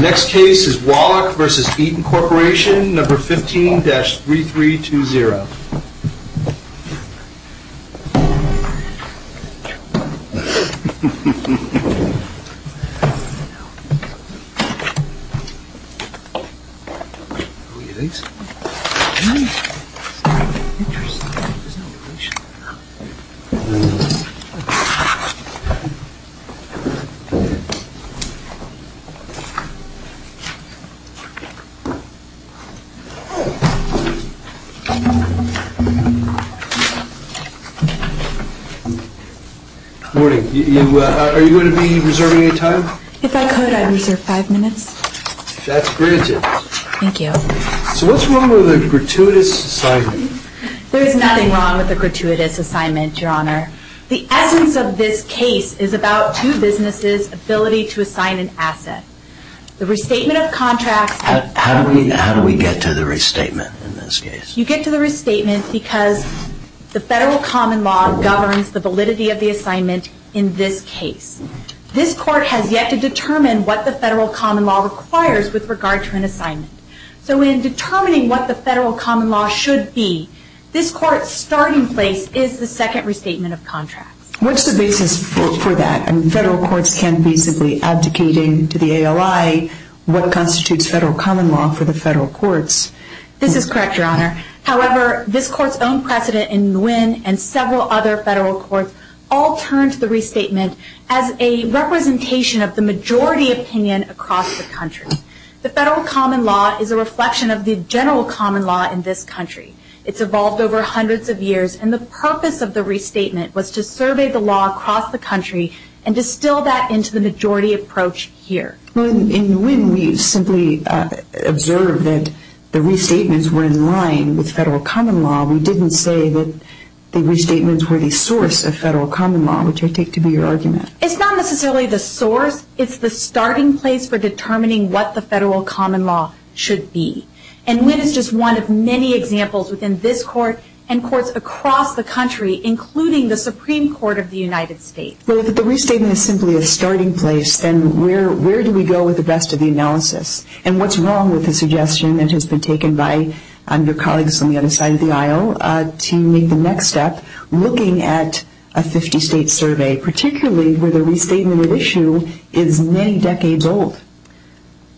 Next case is Wallach v. Eaton Corp. 15-3320. The essence of this case is about two businesses' ability to assign an asset. The restatement of contracts... How do we get to the restatement in this case? You get to the restatement because the Federal Common Law governs the validity of the assignment in this case. This Court has yet to determine what the Federal Common Law requires with regard to an assignment. So in determining what the Federal Common Law should be, this Court's starting place is the second restatement of contracts. What's the basis for that? Federal courts can't be simply abdicating to the ALI what constitutes Federal Common Law for the Federal Courts. This is correct, Your Honor. However, this Court's own precedent in Nguyen and several other Federal Courts all turned to the restatement as a representation of the majority opinion across the country. The Federal Common Law is a reflection of the general common law in this country. It's evolved over hundreds of years, and the purpose of the restatement was to survey the law across the country and distill that into the majority approach here. In Nguyen, we simply observed that the restatements were in line with Federal Common Law. We didn't say that the restatements were the source of Federal Common Law, which I take to be your argument. It's not necessarily the source. It's the starting place for determining what the Federal Common Law should be. And Nguyen is just one of many examples within this Court and Courts across the country, including the Supreme Court of the United States. Well, if the restatement is simply a starting place, then where do we go with the rest of the analysis? And what's wrong with the suggestion that has been taken by your colleagues on the other side of the aisle to make the next step looking at a 50-state survey, particularly where the restatement at issue is many decades old?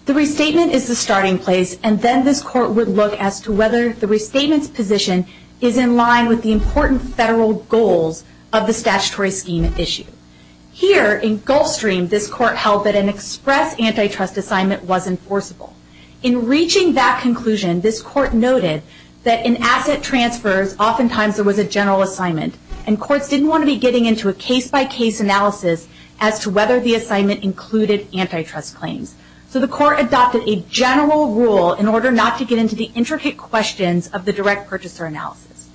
The restatement is the starting place, and then this Court would look as to whether the restatement's position is in line with the important Federal goals of the statutory scheme at issue. Here, in Gulfstream, this Court held that an express antitrust assignment was enforceable. In reaching that conclusion, this Court noted that in asset transfers, oftentimes there was a general assignment, and Courts didn't want to be getting into a case-by-case analysis as to whether the assignment included antitrust claims. So the Court adopted a general rule in order not to get into the intricate questions of the direct purchaser analysis.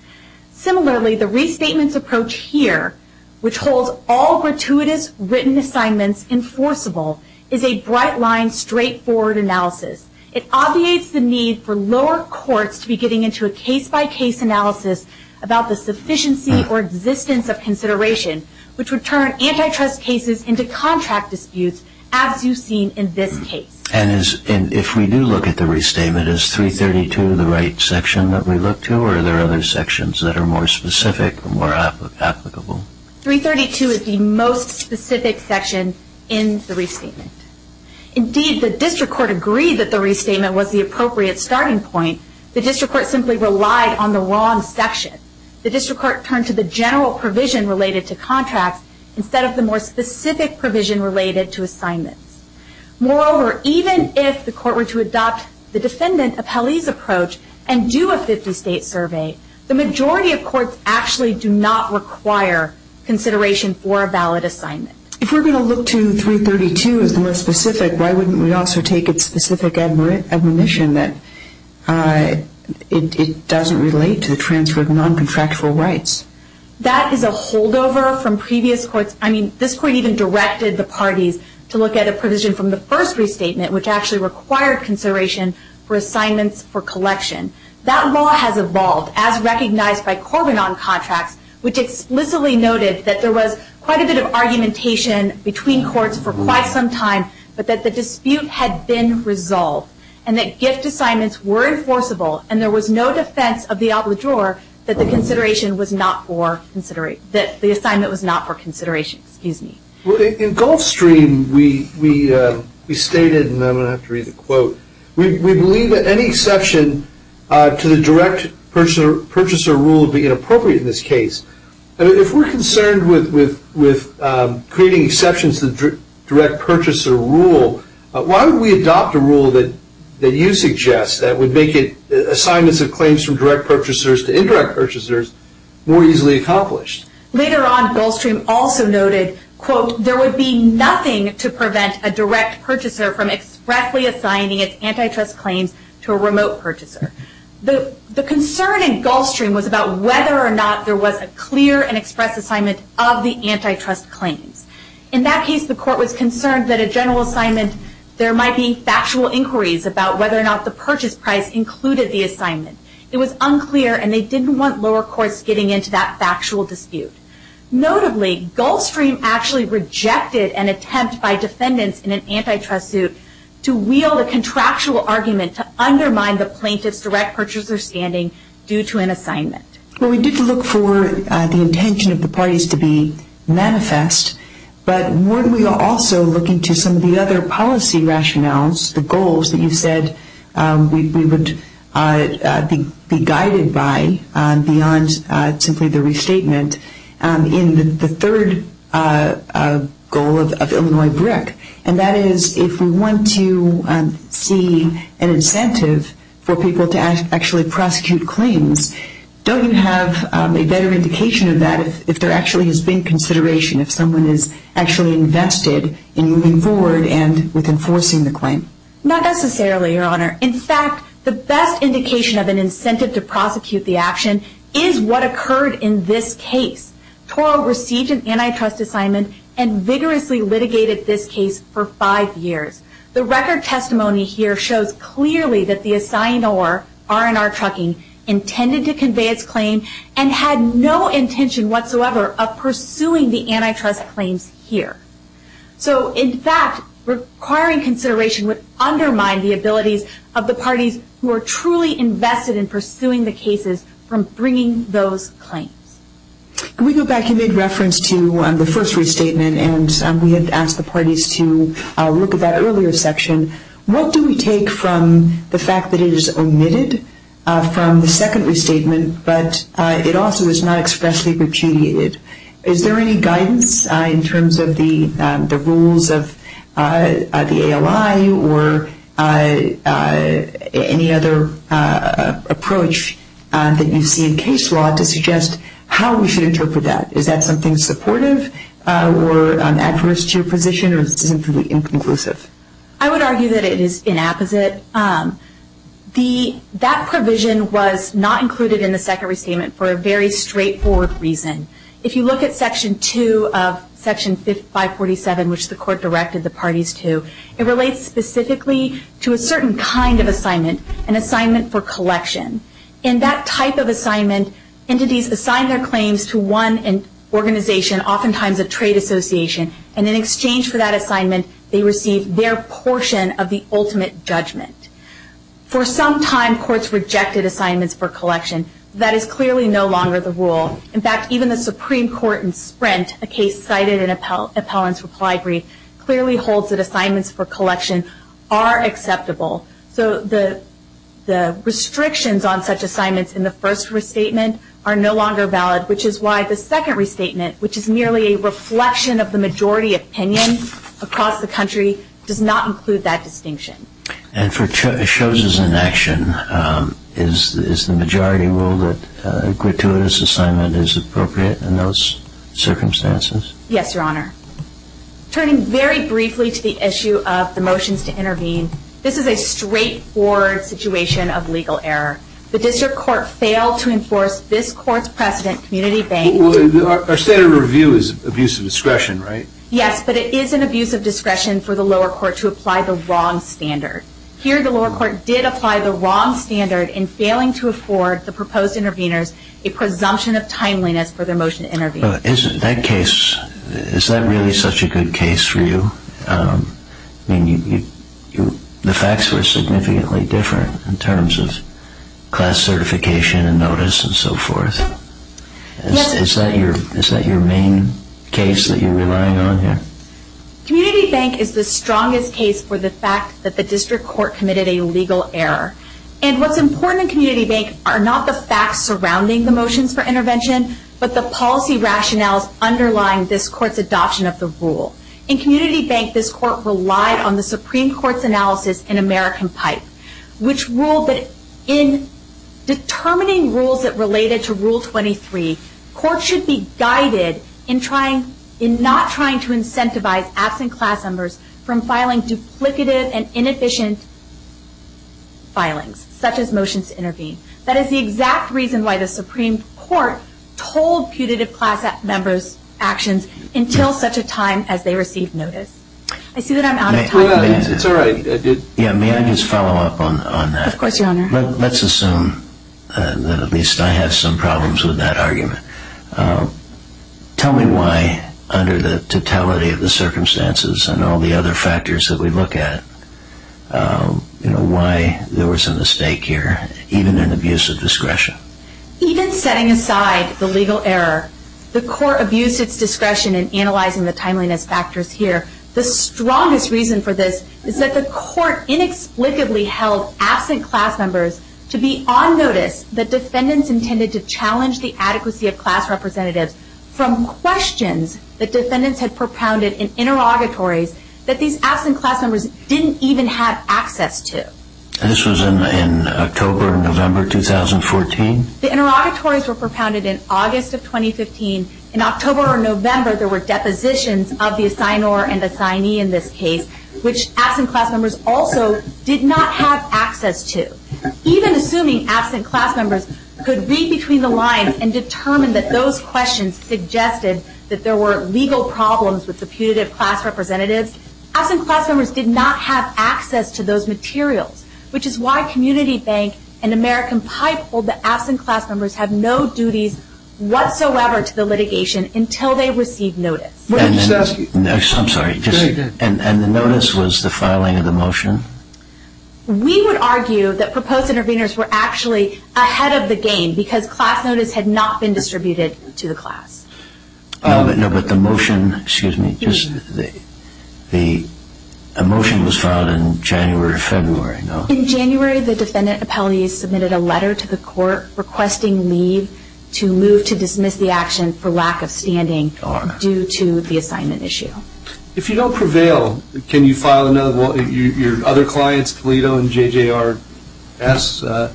Similarly, the restatement's approach here, which holds all gratuitous written assignments enforceable, is a bright-line, straightforward analysis. It obviates the need for lower courts to be getting into a case-by-case analysis about the sufficiency or existence of consideration, which would turn antitrust cases into contract disputes, as you've seen in this case. And if we do look at the restatement, is 332 the right section that we look to, or are there other sections that are more specific or more applicable? 332 is the most specific section in the restatement. Indeed, the District Court agreed that the restatement was the appropriate starting point. The District Court simply relied on the wrong section. The District Court turned to the general provision related to contracts instead of the more specific provision related to assignments. Moreover, even if the Court were to adopt the defendant appellee's approach and do a 50-state survey, the majority of courts actually do not require consideration for a valid assignment. If we're going to look to 332 as the most specific, why wouldn't we also take its specific admonition that it doesn't relate to the transfer of non-contractual rights? That is a holdover from previous courts. I mean, this Court even directed the parties to look at a provision from the first restatement, which actually required consideration for assignments for collection. That law has evolved as recognized by Corbin on contracts, which explicitly noted that there was quite a bit of argumentation between courts for quite some time, but that the dispute had been resolved and that gift assignments were enforceable and there was no defense of the obligure that the assignment was not for consideration. In Gulfstream, we stated, and I'm going to have to read the quote, we believe that any exception to the direct purchaser rule would be inappropriate in this case. If we're concerned with creating exceptions to the direct purchaser rule, why would we adopt a rule that you suggest that would make assignments of claims from direct purchasers to indirect purchasers more easily accomplished? Later on, Gulfstream also noted, quote, from expressly assigning its antitrust claims to a remote purchaser. The concern in Gulfstream was about whether or not there was a clear and express assignment of the antitrust claims. In that case, the Court was concerned that a general assignment, there might be factual inquiries about whether or not the purchase price included the assignment. It was unclear and they didn't want lower courts getting into that factual dispute. Notably, Gulfstream actually rejected an attempt by defendants in an antitrust suit to wield a contractual argument to undermine the plaintiff's direct purchaser standing due to an assignment. Well, we did look for the intention of the parties to be manifest, but weren't we also looking to some of the other policy rationales, the goals that you said we would be guided by beyond simply the restatement in the third goal of Illinois BRIC, and that is if we want to see an incentive for people to actually prosecute claims, don't you have a better indication of that if there actually has been consideration, if someone is actually invested in moving forward and with enforcing the claim? Not necessarily, Your Honor. In fact, the best indication of an incentive to prosecute the action is what occurred in this case. Toro received an antitrust assignment and vigorously litigated this case for five years. The record testimony here shows clearly that the assignor, R&R Trucking, intended to convey its claim and had no intention whatsoever of pursuing the antitrust claims here. So, in fact, requiring consideration would undermine the abilities of the parties who are truly invested in pursuing the cases from bringing those claims. Can we go back and make reference to the first restatement, and we had asked the parties to look at that earlier section. What do we take from the fact that it is omitted from the second restatement, but it also is not expressly repudiated? Is there any guidance in terms of the rules of the ALI or any other approach that you see in case law to suggest how we should interpret that? Is that something supportive or adverse to your position, or is it simply inconclusive? I would argue that it is inapposite. That provision was not included in the second restatement for a very straightforward reason. If you look at Section 2 of Section 547, which the Court directed the parties to, it relates specifically to a certain kind of assignment, an assignment for collection. In that type of assignment, entities assign their claims to one organization, oftentimes a trade association, and in exchange for that assignment, they receive their portion of the ultimate judgment. For some time, courts rejected assignments for collection. That is clearly no longer the rule. In fact, even the Supreme Court in Sprint, a case cited in Appellant's reply brief, clearly holds that assignments for collection are acceptable. The restrictions on such assignments in the first restatement are no longer valid, which is why the second restatement, which is merely a reflection of the majority opinion across the country, does not include that distinction. And for choices in action, is the majority rule that a gratuitous assignment is appropriate in those circumstances? Yes, Your Honor. Turning very briefly to the issue of the motions to intervene, this is a straightforward situation of legal error. The district court failed to enforce this court's precedent community-based. Our standard of review is abuse of discretion, right? Yes, but it is an abuse of discretion for the lower court to apply the wrong standard. Here, the lower court did apply the wrong standard in failing to afford the proposed interveners a presumption of timeliness for their motion to intervene. Is that really such a good case for you? I mean, the facts were significantly different in terms of class certification and notice and so forth. Yes. Is that your main case that you're relying on here? Community bank is the strongest case for the fact that the district court committed a legal error. And what's important in community bank are not the facts surrounding the motions for intervention, but the policy rationales underlying this court's adoption of the rule. In community bank, this court relied on the Supreme Court's analysis in American Pipe, which ruled that in determining rules that related to Rule 23, courts should be guided in not trying to incentivize absent class members from filing duplicative and inefficient filings, such as motions to intervene. That is the exact reason why the Supreme Court told putative class members' actions until such a time as they received notice. I see that I'm out of time. It's all right. May I just follow up on that? Of course, Your Honor. Let's assume that at least I have some problems with that argument. Tell me why, under the totality of the circumstances and all the other factors that we look at, why there was a mistake here, even in abuse of discretion. Even setting aside the legal error, the court abused its discretion in analyzing the timeliness factors here. The strongest reason for this is that the court inexplicably held absent class members to be on notice that defendants intended to challenge the adequacy of class representatives from questions that defendants had propounded in interrogatories that these absent class members didn't even have access to. This was in October or November 2014? The interrogatories were propounded in August of 2015. In October or November, there were depositions of the assignor and assignee in this case, which absent class members also did not have access to. Even assuming absent class members could read between the lines and determine that those questions suggested that there were legal problems with the putative class representatives, absent class members did not have access to those materials, which is why Community Bank and American Pipe hold that absent class members have no duties whatsoever to the litigation until they receive notice. And the notice was the filing of the motion? We would argue that proposed interveners were actually ahead of the game because class notice had not been distributed to the class. No, but the motion was filed in January or February, no? In January, the defendant appellee submitted a letter to the court requesting leave to move to dismiss the action for lack of standing due to the assignment issue. If you don't prevail, can your other clients, Toledo and JJRS,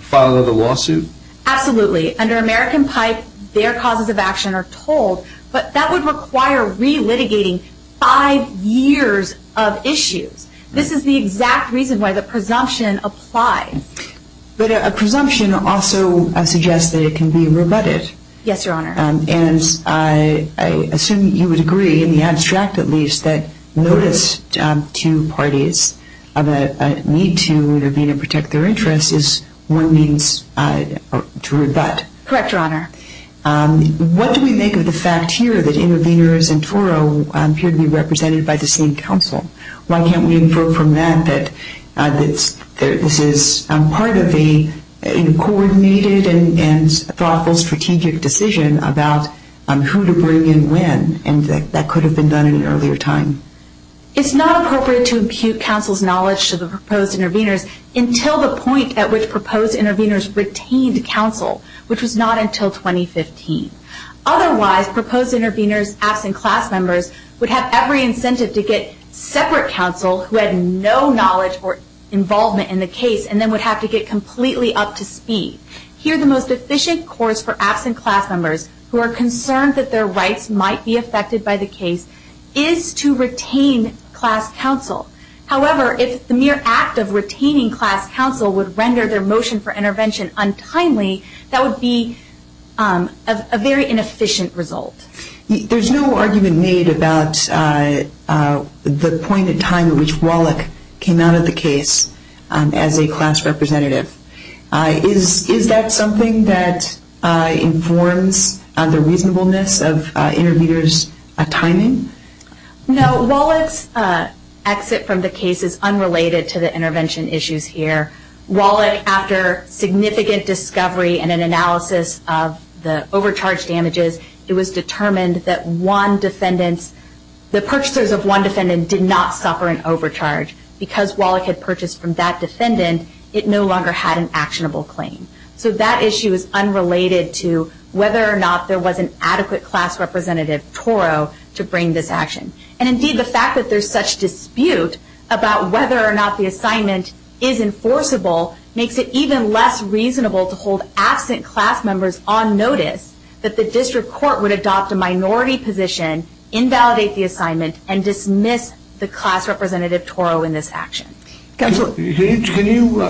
file another lawsuit? Absolutely. Under American Pipe, their causes of action are told, but that would require re-litigating five years of issues. This is the exact reason why the presumption applies. But a presumption also suggests that it can be rebutted. Yes, Your Honor. And I assume you would agree, in the abstract at least, that notice to parties of a need to intervene and protect their interests is one means to rebut. Correct, Your Honor. What do we make of the fact here that interveners in Toro appear to be represented by the same counsel? Why can't we infer from that that this is part of a coordinated and thoughtful strategic decision about who to bring in when, and that could have been done at an earlier time? It's not appropriate to impute counsel's knowledge to the proposed interveners until the point at which proposed interveners retained counsel, which was not until 2015. Otherwise, proposed interveners, absent class members, would have every incentive to get separate counsel who had no knowledge or involvement in the case and then would have to get completely up to speed. Here the most efficient course for absent class members who are concerned that their rights might be affected by the case is to retain class counsel. However, if the mere act of retaining class counsel would render their motion for intervention untimely, that would be a very inefficient result. There's no argument made about the point in time at which Wallach came out of the case as a class representative. Is that something that informs the reasonableness of interveners' timing? No. Wallach's exit from the case is unrelated to the intervention issues here. Wallach, after significant discovery and an analysis of the overcharge damages, it was determined that the purchasers of one defendant did not suffer an overcharge. Because Wallach had purchased from that defendant, it no longer had an actionable claim. So that issue is unrelated to whether or not there was an adequate class representative, Toro, to bring this action. Indeed, the fact that there's such dispute about whether or not the assignment is enforceable makes it even less reasonable to hold absent class members on notice that the district court would adopt a minority position, invalidate the assignment, and dismiss the class representative, Toro, in this action. Counselor, can you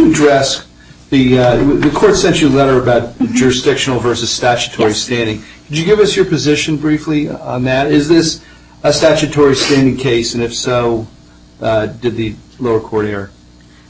address the court sent you a letter about jurisdictional versus statutory standing. Could you give us your position briefly on that? Is this a statutory standing case, and if so, did the lower court err?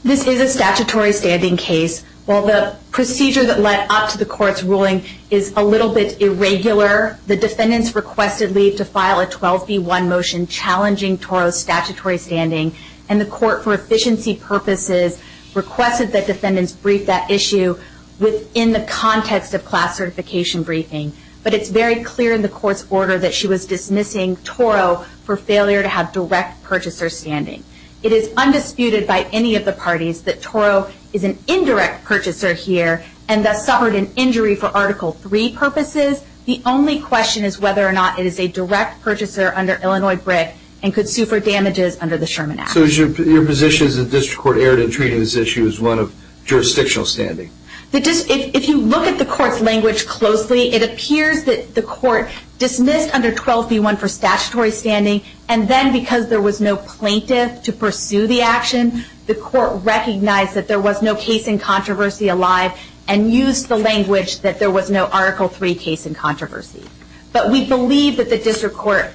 This is a statutory standing case. While the procedure that led up to the court's ruling is a little bit irregular, the defendants requested leave to file a 12B1 motion challenging Toro's statutory standing, and the court, for efficiency purposes, requested that defendants brief that issue within the context of class certification briefing. But it's very clear in the court's order that she was dismissing Toro for failure to have direct purchaser standing. It is undisputed by any of the parties that Toro is an indirect purchaser here and thus suffered an injury for Article III purposes. The only question is whether or not it is a direct purchaser under Illinois BRIC and could sue for damages under the Sherman Act. So your position is that the district court erred in treating this issue as one of jurisdictional standing? If you look at the court's language closely, it appears that the court dismissed under 12B1 for statutory standing, and then because there was no plaintiff to pursue the action, the court recognized that there was no case in controversy alive and used the language that there was no Article III case in controversy. But we believe that the district court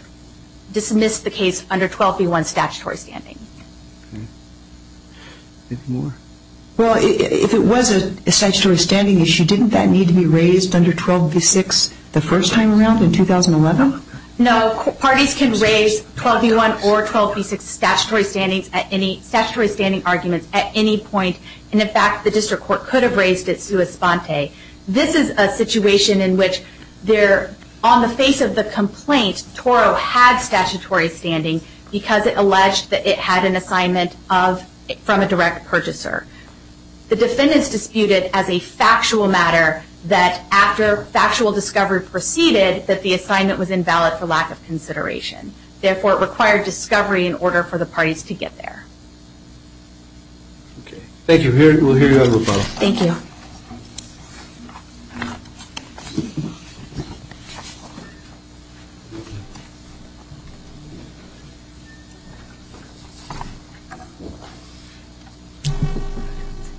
dismissed the case under 12B1 statutory standing. Well, if it was a statutory standing issue, didn't that need to be raised under 12B6 the first time around in 2011? No. Parties can raise 12B1 or 12B6 statutory standing arguments at any point, and in fact, the district court could have raised it sua sponte. This is a situation in which on the face of the complaint, Toro had statutory standing because it alleged that it had an assignment from a direct purchaser. The defendants disputed as a factual matter that after factual discovery proceeded, that the assignment was invalid for lack of consideration. Therefore, it required discovery in order for the parties to get there. Thank you. We'll hear you on the phone. Thank you.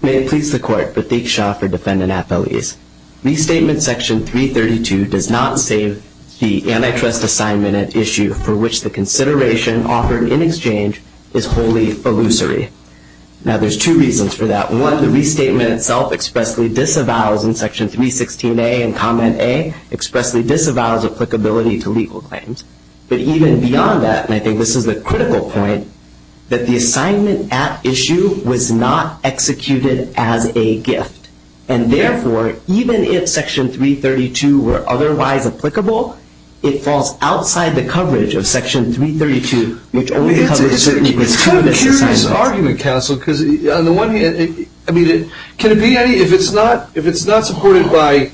May it please the Court, Prateek Shah for defendant appellees. Restatement Section 332 does not save the antitrust assignment at issue for which the consideration offered in exchange is wholly illusory. Now, there's two reasons for that. One, the restatement itself expressly disavows, and Section 316A and Comment A expressly disavows applicability to legal claims. But even beyond that, and I think this is a critical point, that the assignment at issue was not executed as a gift. And therefore, even if Section 332 were otherwise applicable, it falls outside the coverage of Section 332, which only covers certainty with two of its assignments. It's kind of a curious argument, counsel, because on the one hand, I mean, can it be any, if it's not supported by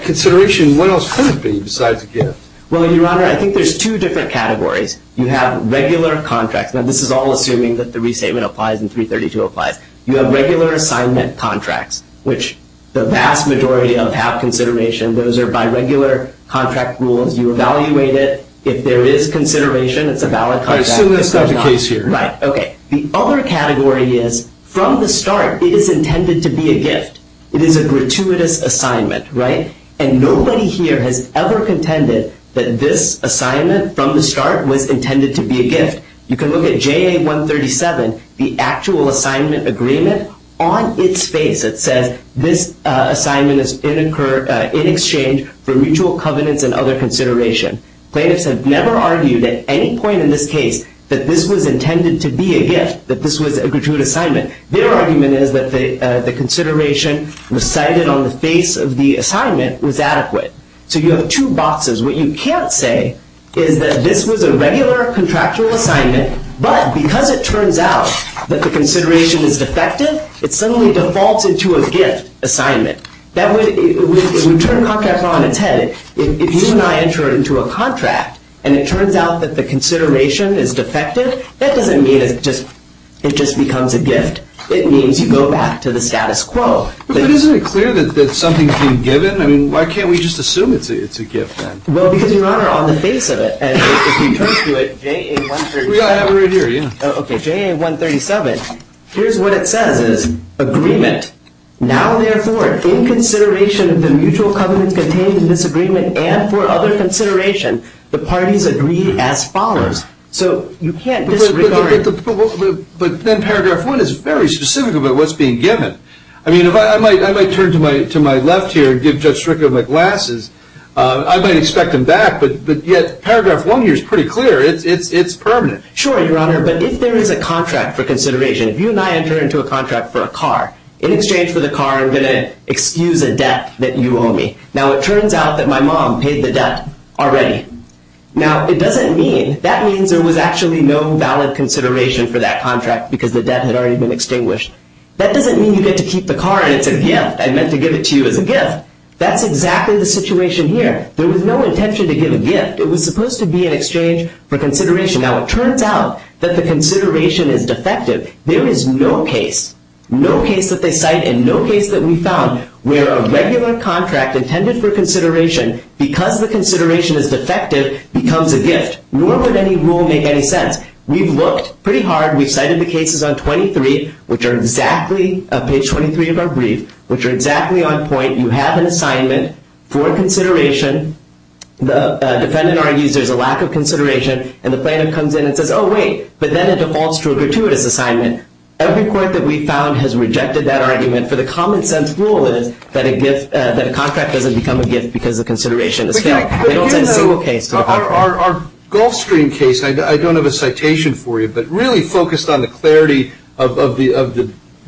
consideration, what else could it be besides a gift? Well, Your Honor, I think there's two different categories. You have regular contracts. Now, this is all assuming that the restatement applies and 332 applies. You have regular assignment contracts, which the vast majority of have consideration. Those are by regular contract rules. You evaluate it. If there is consideration, it's a valid contract. I assume that's not the case here. Right, okay. The other category is, from the start, it is intended to be a gift. It is a gratuitous assignment, right? And nobody here has ever contended that this assignment from the start was intended to be a gift. You can look at JA 137, the actual assignment agreement. On its face it says, this assignment is in exchange for mutual covenants and other consideration. Plaintiffs have never argued at any point in this case that this was intended to be a gift, that this was a gratuitous assignment. Their argument is that the consideration was cited on the face of the assignment was adequate. So you have two boxes. What you can't say is that this was a regular contractual assignment, but because it turns out that the consideration is defective, it suddenly defaults into a gift assignment. That would turn contract law on its head. If you and I enter into a contract and it turns out that the consideration is defective, that doesn't mean it just becomes a gift. It means you go back to the status quo. But isn't it clear that something is being given? I mean, why can't we just assume it's a gift then? Well, because, Your Honor, on the face of it, if you turn to it, JA 137, here's what it says is agreement. Now, therefore, in consideration of the mutual covenants contained in this agreement and for other consideration, the parties agree as follows. So you can't disregard it. But then paragraph one is very specific about what's being given. I mean, I might turn to my left here and give Judge Strickland my glasses. I might expect him back, but yet paragraph one here is pretty clear. It's permanent. Sure, Your Honor, but if there is a contract for consideration, if you and I enter into a contract for a car, in exchange for the car, I'm going to excuse a debt that you owe me. Now, it turns out that my mom paid the debt already. Now, it doesn't mean, that means there was actually no valid consideration for that contract because the debt had already been extinguished. That doesn't mean you get to keep the car and it's a gift. I meant to give it to you as a gift. That's exactly the situation here. There was no intention to give a gift. It was supposed to be an exchange for consideration. Now, it turns out that the consideration is defective. There is no case, no case that they cite and no case that we found where a regular contract intended for consideration, because the consideration is defective, becomes a gift. Nor would any rule make any sense. We've looked pretty hard. We've cited the cases on 23, which are exactly, page 23 of our brief, which are exactly on point. You have an assignment for consideration. The defendant argues there's a lack of consideration. And the plaintiff comes in and says, oh, wait. But then it defaults to a gratuitous assignment. Every court that we've found has rejected that argument for the common-sense rule that a contract doesn't become a gift because the consideration is failed. They don't send a single case. Our Gulfstream case, I don't have a citation for you, but really focused on the clarity of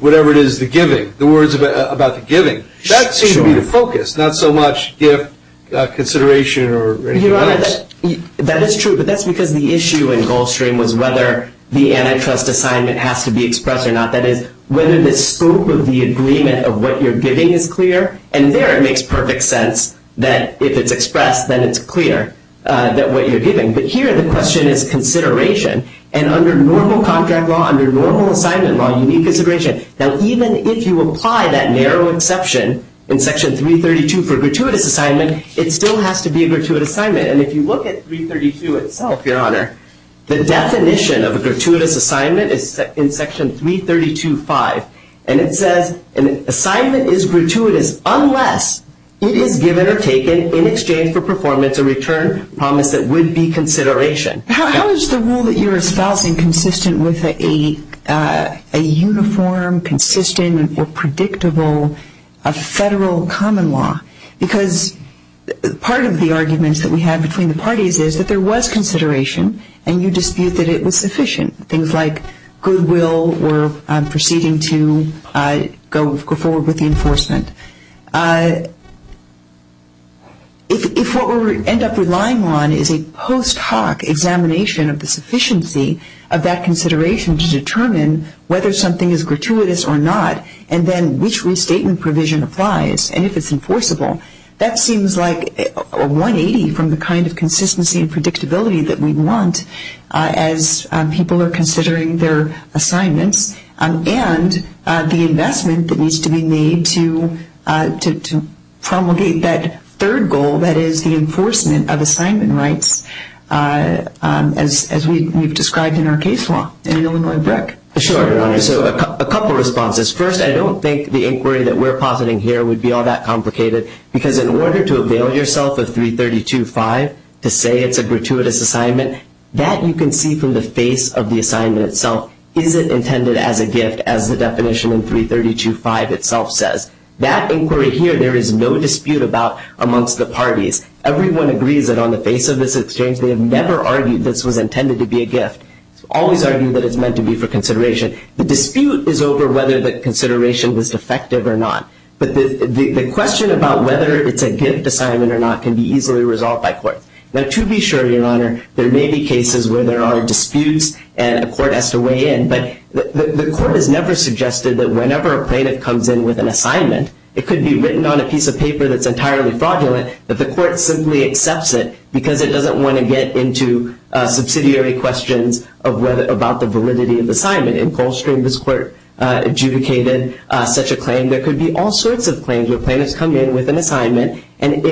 whatever it is, the giving, the words about the giving. That seems to be the focus, not so much gift, consideration, or anything else. Your Honor, that is true. But that's because the issue in Gulfstream was whether the antitrust assignment has to be expressed or not. That is, whether the scope of the agreement of what you're giving is clear. And there it makes perfect sense that if it's expressed, then it's clear that what you're giving. But here the question is consideration. And under normal contract law, under normal assignment law, you need consideration. Now, even if you apply that narrow exception in Section 332 for a gratuitous assignment, it still has to be a gratuitous assignment. And if you look at 332 itself, Your Honor, the definition of a gratuitous assignment is in Section 332.5. And it says an assignment is gratuitous unless it is given or taken in exchange for performance or return promise that would be consideration. How is the rule that you're espousing consistent with a uniform, consistent, or predictable federal common law? Because part of the arguments that we have between the parties is that there was consideration, and you dispute that it was sufficient. Things like goodwill or proceeding to go forward with the enforcement. If what we end up relying on is a post hoc examination of the sufficiency of that consideration to determine whether something is gratuitous or not, and then which restatement provision applies, and if it's enforceable, that seems like a 180 from the kind of consistency and predictability that we want as people are considering their assignments and the investment that needs to be made to promulgate that third goal, that is the enforcement of assignment rights, as we've described in our case law in Illinois BRIC. Sure, Your Honor. So a couple responses. First, I don't think the inquiry that we're positing here would be all that complicated because in order to avail yourself of 332.5 to say it's a gratuitous assignment, that you can see from the face of the assignment itself, is it intended as a gift as the definition in 332.5 itself says. That inquiry here, there is no dispute about amongst the parties. Everyone agrees that on the face of this exchange, they have never argued this was intended to be a gift. It's always argued that it's meant to be for consideration. The dispute is over whether the consideration was effective or not. But the question about whether it's a gift assignment or not can be easily resolved by court. Now, to be sure, Your Honor, there may be cases where there are disputes and a court has to weigh in. But the court has never suggested that whenever a plaintiff comes in with an assignment, it could be written on a piece of paper that's entirely fraudulent, that the court simply accepts it because it doesn't want to get into subsidiary questions about the validity of the assignment. In Goldstream, this court adjudicated such a claim. There could be all sorts of claims where plaintiffs come in with an assignment. And,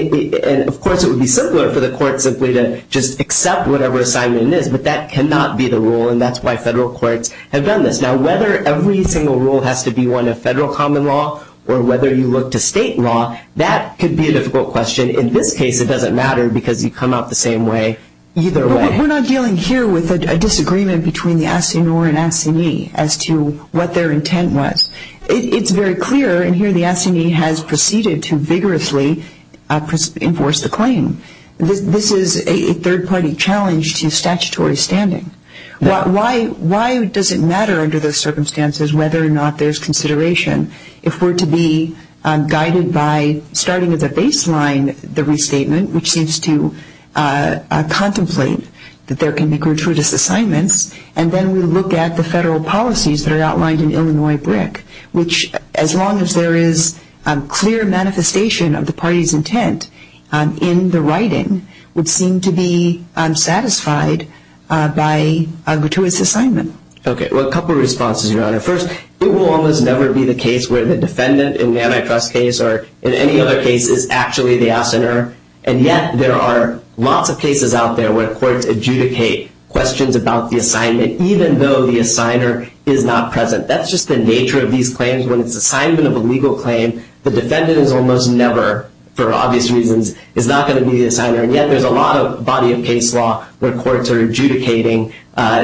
of course, it would be simpler for the court simply to just accept whatever assignment it is. But that cannot be the rule, and that's why federal courts have done this. Now, whether every single rule has to be one of federal common law or whether you look to state law, that could be a difficult question. In this case, it doesn't matter because you come out the same way either way. But we're not dealing here with a disagreement between the assinor and assignee as to what their intent was. It's very clear, and here the assignee has proceeded to vigorously enforce the claim. This is a third-party challenge to statutory standing. Why does it matter under those circumstances whether or not there's consideration? If we're to be guided by starting at the baseline, the restatement, which seems to contemplate that there can be gratuitous assignments, and then we look at the federal policies that are outlined in Illinois BRIC, which, as long as there is clear manifestation of the party's intent in the writing, would seem to be unsatisfied by a gratuitous assignment. Okay. Well, a couple of responses, Your Honor. First, it will almost never be the case where the defendant in the antitrust case or in any other case is actually the assinor. And yet there are lots of cases out there where courts adjudicate questions about the assignment, even though the assigner is not present. That's just the nature of these claims. When it's assignment of a legal claim, the defendant is almost never, for obvious reasons, is not going to be the assigner. And yet there's a lot of body of case law where courts are adjudicating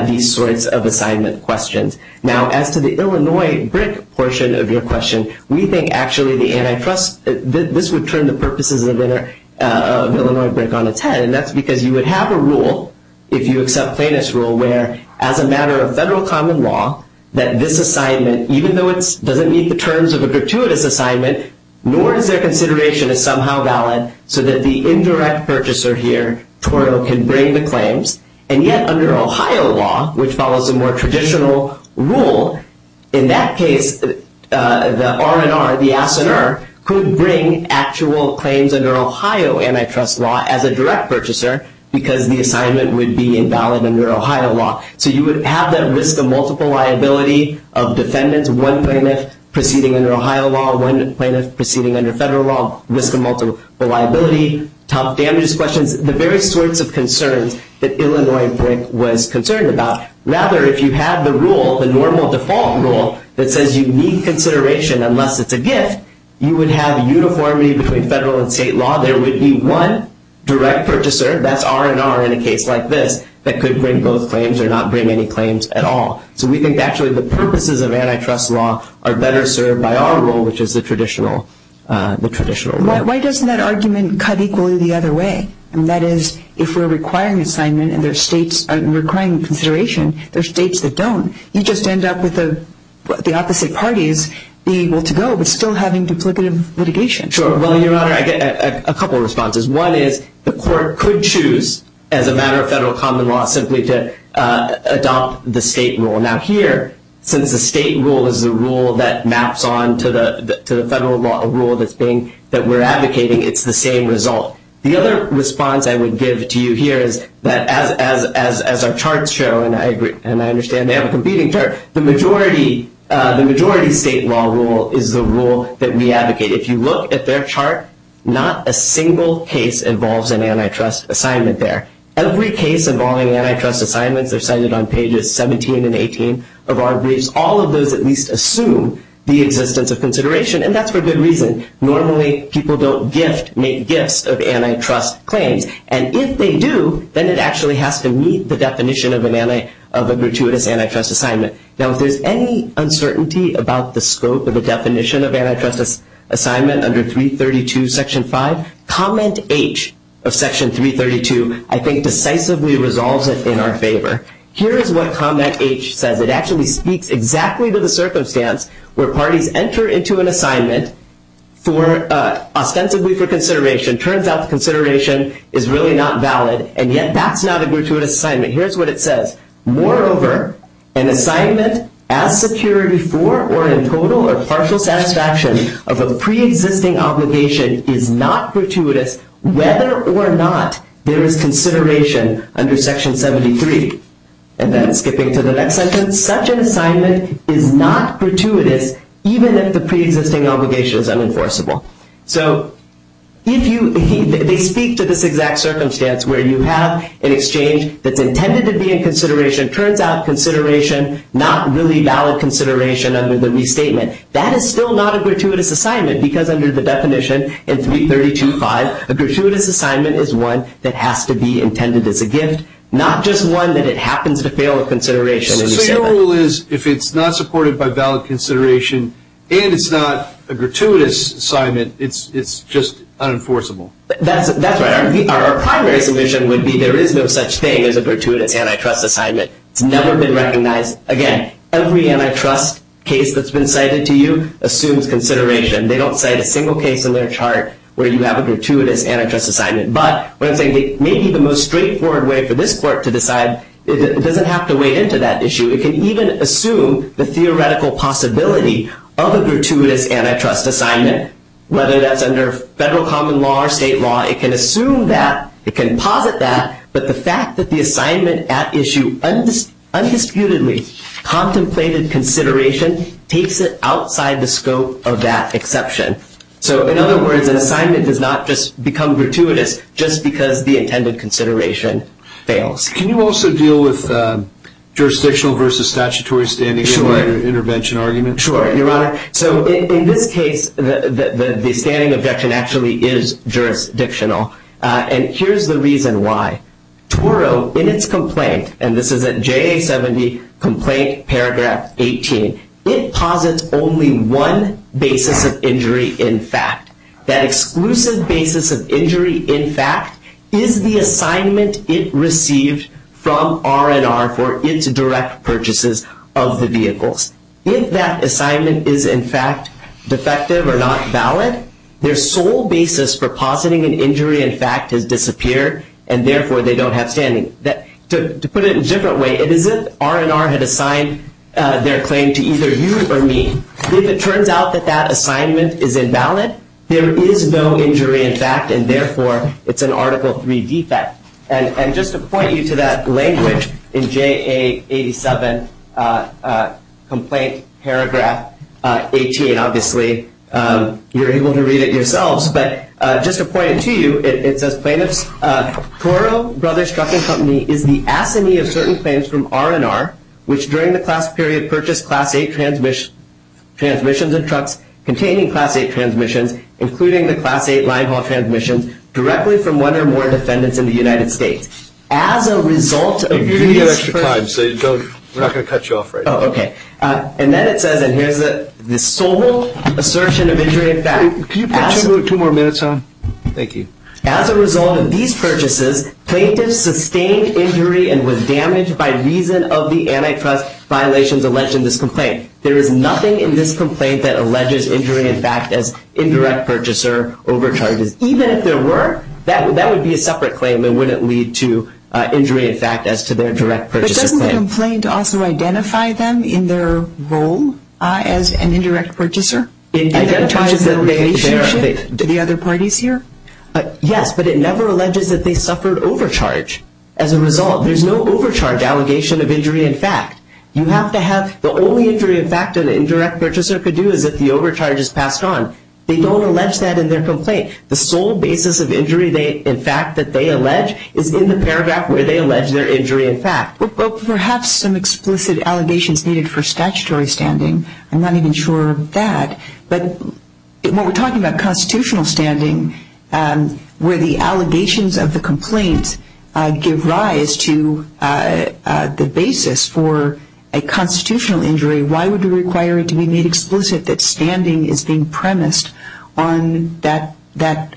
these sorts of assignment questions. Now, as to the Illinois BRIC portion of your question, we think actually the antitrust, this would turn the purposes of Illinois BRIC on its head. And that's because you would have a rule, if you accept plaintiff's rule, where as a matter of federal common law, that this assignment, even though it doesn't meet the terms of a gratuitous assignment, nor is their consideration as somehow valid so that the indirect purchaser here, TORO, can bring the claims. And yet under Ohio law, which follows a more traditional rule, in that case, the R&R, the assigner, could bring actual claims under Ohio antitrust law as a direct purchaser because the assignment would be invalid under Ohio law. So you would have that risk of multiple liability of defendants, one plaintiff proceeding under Ohio law, one plaintiff proceeding under federal law, risk of multiple liability, tough damages questions, the various sorts of concerns that Illinois BRIC was concerned about. Rather, if you have the rule, the normal default rule, that says you need consideration unless it's a gift, you would have uniformity between federal and state law. There would be one direct purchaser, that's R&R in a case like this, that could bring both claims or not bring any claims at all. So we think actually the purposes of antitrust law are better served by our rule, which is the traditional rule. Why doesn't that argument cut equally the other way? And that is, if we're requiring assignment and requiring consideration, there are states that don't. You just end up with the opposite parties being able to go but still having duplicative litigation. Sure. Well, Your Honor, I get a couple of responses. One is the court could choose, as a matter of federal common law, simply to adopt the state rule. Now here, since the state rule is the rule that maps on to the federal law, a rule that we're advocating, it's the same result. The other response I would give to you here is that, as our charts show, and I understand they have a competing chart, the majority state law rule is the rule that we advocate. If you look at their chart, not a single case involves an antitrust assignment there. Every case involving antitrust assignments are cited on pages 17 and 18 of our briefs. All of those at least assume the existence of consideration, and that's for good reason. Normally, people don't make gifts of antitrust claims. And if they do, then it actually has to meet the definition of a gratuitous antitrust assignment. Now, if there's any uncertainty about the scope of the definition of antitrust assignment under 332 Section 5, Comment H of Section 332, I think, decisively resolves it in our favor. Here is what Comment H says. It actually speaks exactly to the circumstance where parties enter into an assignment ostensibly for consideration. Turns out the consideration is really not valid, and yet that's not a gratuitous assignment. Here's what it says. Moreover, an assignment as secured before or in total or partial satisfaction of a preexisting obligation is not gratuitous whether or not there is consideration under Section 73. And then skipping to the next sentence. Such an assignment is not gratuitous even if the preexisting obligation is unenforceable. So they speak to this exact circumstance where you have an exchange that's intended to be in consideration. Turns out consideration, not really valid consideration under the restatement. That is still not a gratuitous assignment because under the definition in 332.5, a gratuitous assignment is one that has to be intended as a gift, not just one that it happens to fail with consideration. So your rule is if it's not supported by valid consideration and it's not a gratuitous assignment, it's just unenforceable. That's right. Our primary submission would be there is no such thing as a gratuitous antitrust assignment. It's never been recognized. Again, every antitrust case that's been cited to you assumes consideration. They don't cite a single case in their chart where you have a gratuitous antitrust assignment. But what I'm saying may be the most straightforward way for this court to decide. It doesn't have to wade into that issue. It can even assume the theoretical possibility of a gratuitous antitrust assignment, whether that's under federal common law or state law. It can assume that. It can posit that. But the fact that the assignment at issue undisputedly contemplated consideration takes it outside the scope of that exception. So in other words, an assignment does not just become gratuitous just because the intended consideration fails. Can you also deal with jurisdictional versus statutory standing in an intervention argument? Sure, Your Honor. So in this case, the standing objection actually is jurisdictional. And here's the reason why. Toro, in its complaint, and this is at JA 70, complaint paragraph 18, it posits only one basis of injury in fact. That exclusive basis of injury in fact is the assignment it received from R&R for its direct purchases of the vehicles. If that assignment is in fact defective or not valid, their sole basis for positing an injury in fact has disappeared and therefore they don't have standing. To put it in a different way, it is as if R&R had assigned their claim to either you or me. If it turns out that that assignment is invalid, there is no injury in fact and therefore it's an Article III defect. And just to point you to that language in JA 87 complaint paragraph 18, obviously you're able to read it yourselves, but just to point it to you, it says plaintiffs, Toro Brothers Trucking Company is the assignee of certain claims from R&R, which during the class period purchased Class 8 transmissions and trucks containing Class 8 transmissions, including the Class 8 line haul transmissions, directly from one or more defendants in the United States. As a result of these claims. We're giving you extra time, so we're not going to cut you off right now. Oh, okay. And then it says, and here's the sole assertion of injury in fact. Can you put two more minutes on? Thank you. As a result of these purchases, plaintiffs sustained injury and was damaged by reason of the antitrust violations alleged in this complaint. There is nothing in this complaint that alleges injury in fact as indirect purchaser overcharges. Even if there were, that would be a separate claim and wouldn't lead to injury in fact as to their direct purchaser claim. But doesn't the complaint also identify them in their role as an indirect purchaser? Identifies their relationship to the other parties here? Yes, but it never alleges that they suffered overcharge. As a result, there's no overcharge allegation of injury in fact. You have to have the only injury in fact an indirect purchaser could do is if the overcharge is passed on. They don't allege that in their complaint. The sole basis of injury in fact that they allege is in the paragraph where they allege their injury in fact. Well, perhaps some explicit allegations needed for statutory standing. I'm not even sure of that. But when we're talking about constitutional standing where the allegations of the complaint give rise to the basis for a constitutional injury, why would you require it to be made explicit that standing is being premised on that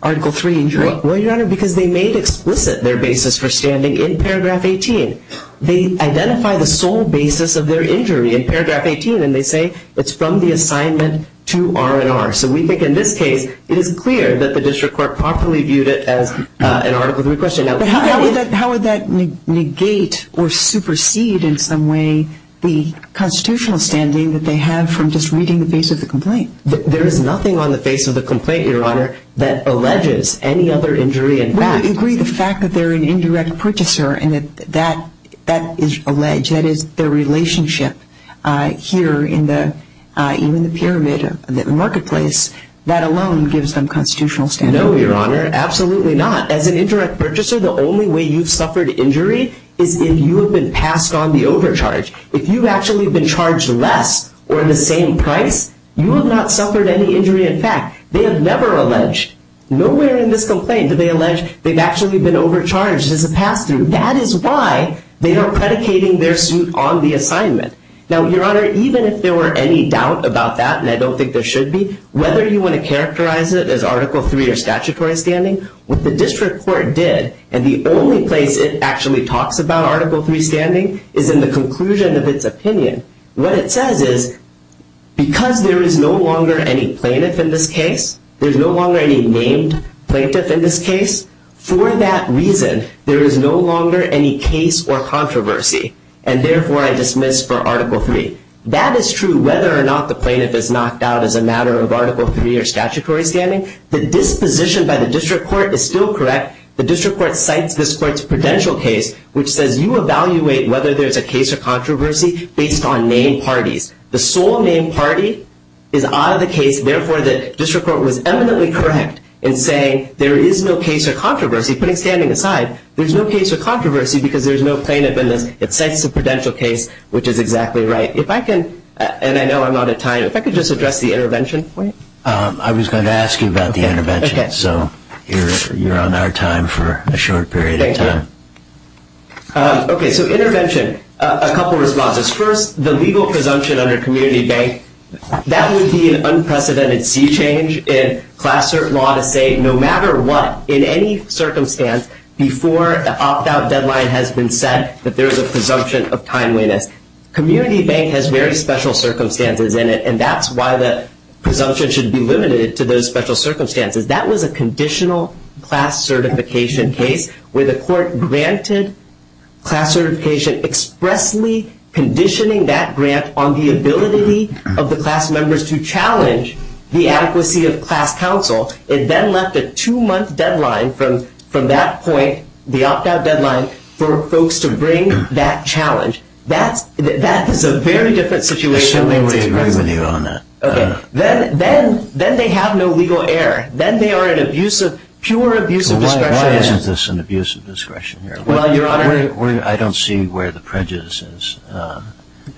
Article III injury? Well, Your Honor, because they made explicit their basis for standing in paragraph 18. They identify the sole basis of their injury in paragraph 18, and they say it's from the assignment to R&R. So we think in this case it is clear that the district court properly viewed it as an Article III question. But how would that negate or supersede in some way the constitutional standing that they have from just reading the face of the complaint? There is nothing on the face of the complaint, Your Honor, that alleges any other injury in fact. I would agree the fact that they're an indirect purchaser and that that is alleged, that is their relationship here in the pyramid of the marketplace, that alone gives them constitutional standing. No, Your Honor, absolutely not. As an indirect purchaser, the only way you've suffered injury is if you have been passed on the overcharge. If you've actually been charged less or the same price, you have not suffered any injury in fact. They have never alleged, nowhere in this complaint do they allege they've actually been overcharged as a pass-through. That is why they are predicating their suit on the assignment. Now, Your Honor, even if there were any doubt about that, and I don't think there should be, whether you want to characterize it as Article III or statutory standing, what the district court did, and the only place it actually talks about Article III standing, is in the conclusion of its opinion. What it says is, because there is no longer any plaintiff in this case, there's no longer any named plaintiff in this case, for that reason there is no longer any case or controversy, and therefore I dismiss for Article III. That is true whether or not the plaintiff is knocked out as a matter of Article III or statutory standing. The disposition by the district court is still correct. The district court cites this court's prudential case, which says you evaluate whether there's a case or controversy based on named parties. The sole named party is out of the case, therefore the district court was eminently correct in saying there is no case or controversy. Putting standing aside, there's no case or controversy because there's no plaintiff in this. It cites a prudential case, which is exactly right. If I can, and I know I'm out of time, if I could just address the intervention point. I was going to ask you about the intervention, so you're on our time for a short period of time. Okay, so intervention. A couple responses. First, the legal presumption under community bank, that would be an unprecedented sea change in class cert law to say, no matter what, in any circumstance, before the opt-out deadline has been set, that there is a presumption of timeliness. Community bank has very special circumstances in it, and that's why the presumption should be limited to those special circumstances. That was a conditional class certification case where the court granted class certification expressly conditioning that grant on the ability of the class members to challenge the adequacy of class counsel. It then left a two-month deadline from that point, the opt-out deadline, for folks to bring that challenge. That is a very different situation. I simply agree with you on that. Okay. Then they have no legal error. Then they are an abusive, pure abusive discretion. Why isn't this an abusive discretion here? Well, Your Honor. I don't see where the prejudice is,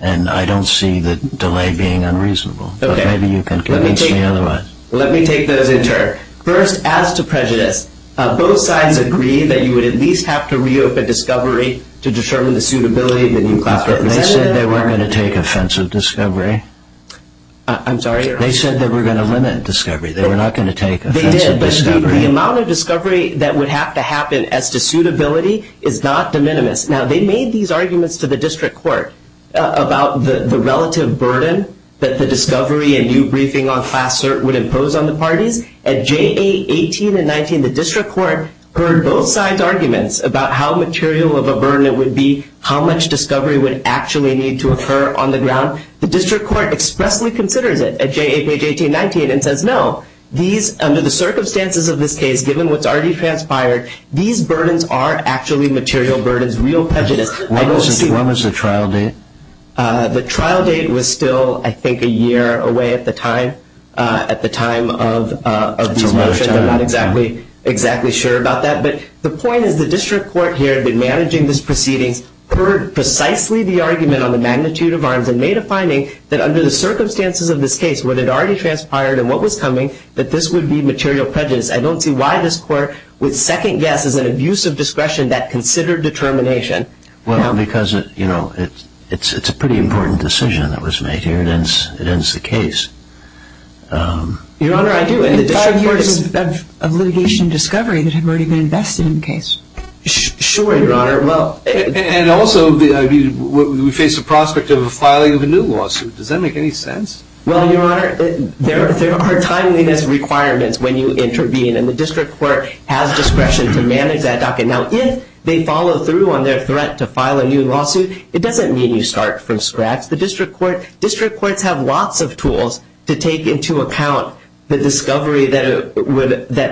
and I don't see the delay being unreasonable. Okay. But maybe you can convince me otherwise. Let me take those in turn. First, as to prejudice, both sides agree that you would at least have to reopen discovery to determine the suitability of the new class representative. But they said they weren't going to take offensive discovery. I'm sorry, Your Honor. They said they were going to limit discovery. They were not going to take offensive discovery. They did, but the amount of discovery that would have to happen as to suitability is not de minimis. Now, they made these arguments to the district court about the relative burden that the discovery and new briefing on class cert would impose on the parties. At J.A. 18 and 19, the district court heard both sides' arguments about how material of a burden it would be, how much discovery would actually need to occur on the ground. The district court expressly considers it at J.A. page 18 and 19 and says, no, under the circumstances of this case, given what's already transpired, these burdens are actually material burdens, real prejudice. When was the trial date? The trial date was still, I think, a year away at the time of these motions. I'm not exactly sure about that. But the point is the district court here had been managing these proceedings, heard precisely the argument on the magnitude of arms, and made a finding that under the circumstances of this case, when it already transpired and what was coming, that this would be material prejudice. I don't see why this court would second guess as an abuse of discretion that considered determination. Well, because it's a pretty important decision that was made here. It ends the case. Your Honor, I do. And the district court is of litigation discovery that had already been invested in the case. Sure, Your Honor. And also, we face the prospect of a filing of a new lawsuit. Does that make any sense? Well, Your Honor, there are timeliness requirements when you intervene, and the district court has discretion to manage that docket. Now, if they follow through on their threat to file a new lawsuit, it doesn't mean you start from scratch. The district courts have lots of tools to take into account the discovery that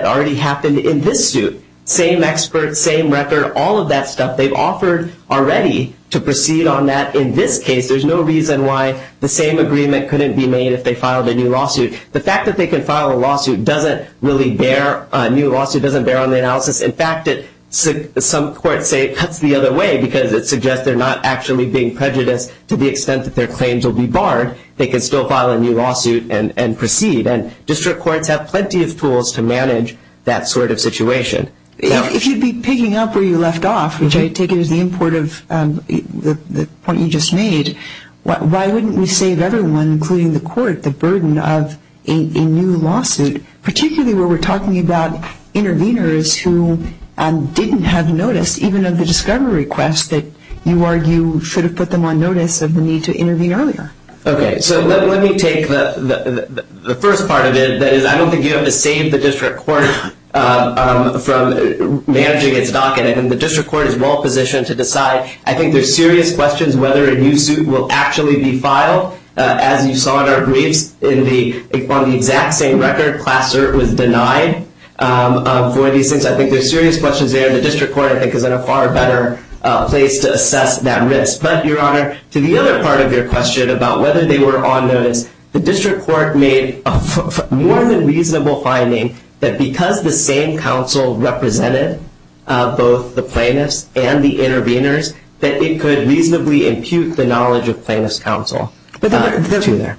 already happened in this suit. Same experts, same record, all of that stuff they've offered already to proceed on that. In this case, there's no reason why the same agreement couldn't be made if they filed a new lawsuit. The fact that they can file a lawsuit doesn't really bear, a new lawsuit doesn't bear on the analysis. In fact, some courts say it cuts the other way because it suggests they're not actually being prejudiced to the extent that their claims will be barred. They can still file a new lawsuit and proceed. And district courts have plenty of tools to manage that sort of situation. If you'd be picking up where you left off, which I take it is the import of the point you just made, why wouldn't we save everyone, including the court, the burden of a new lawsuit, particularly where we're talking about interveners who didn't have notice, even of the discovery request that you argue should have put them on notice of the need to intervene earlier? Okay, so let me take the first part of it. That is, I don't think you have to save the district court from managing its docket. And the district court is well positioned to decide. I think there's serious questions whether a new suit will actually be filed. As you saw in our briefs, on the exact same record, class cert was denied for these things. I think there's serious questions there. The district court, I think, is in a far better place to assess that risk. But, Your Honor, to the other part of your question about whether they were on notice, the district court made a more than reasonable finding that because the same counsel represented both the plaintiffs and the interveners, that it could reasonably impute the knowledge of plaintiff's counsel. The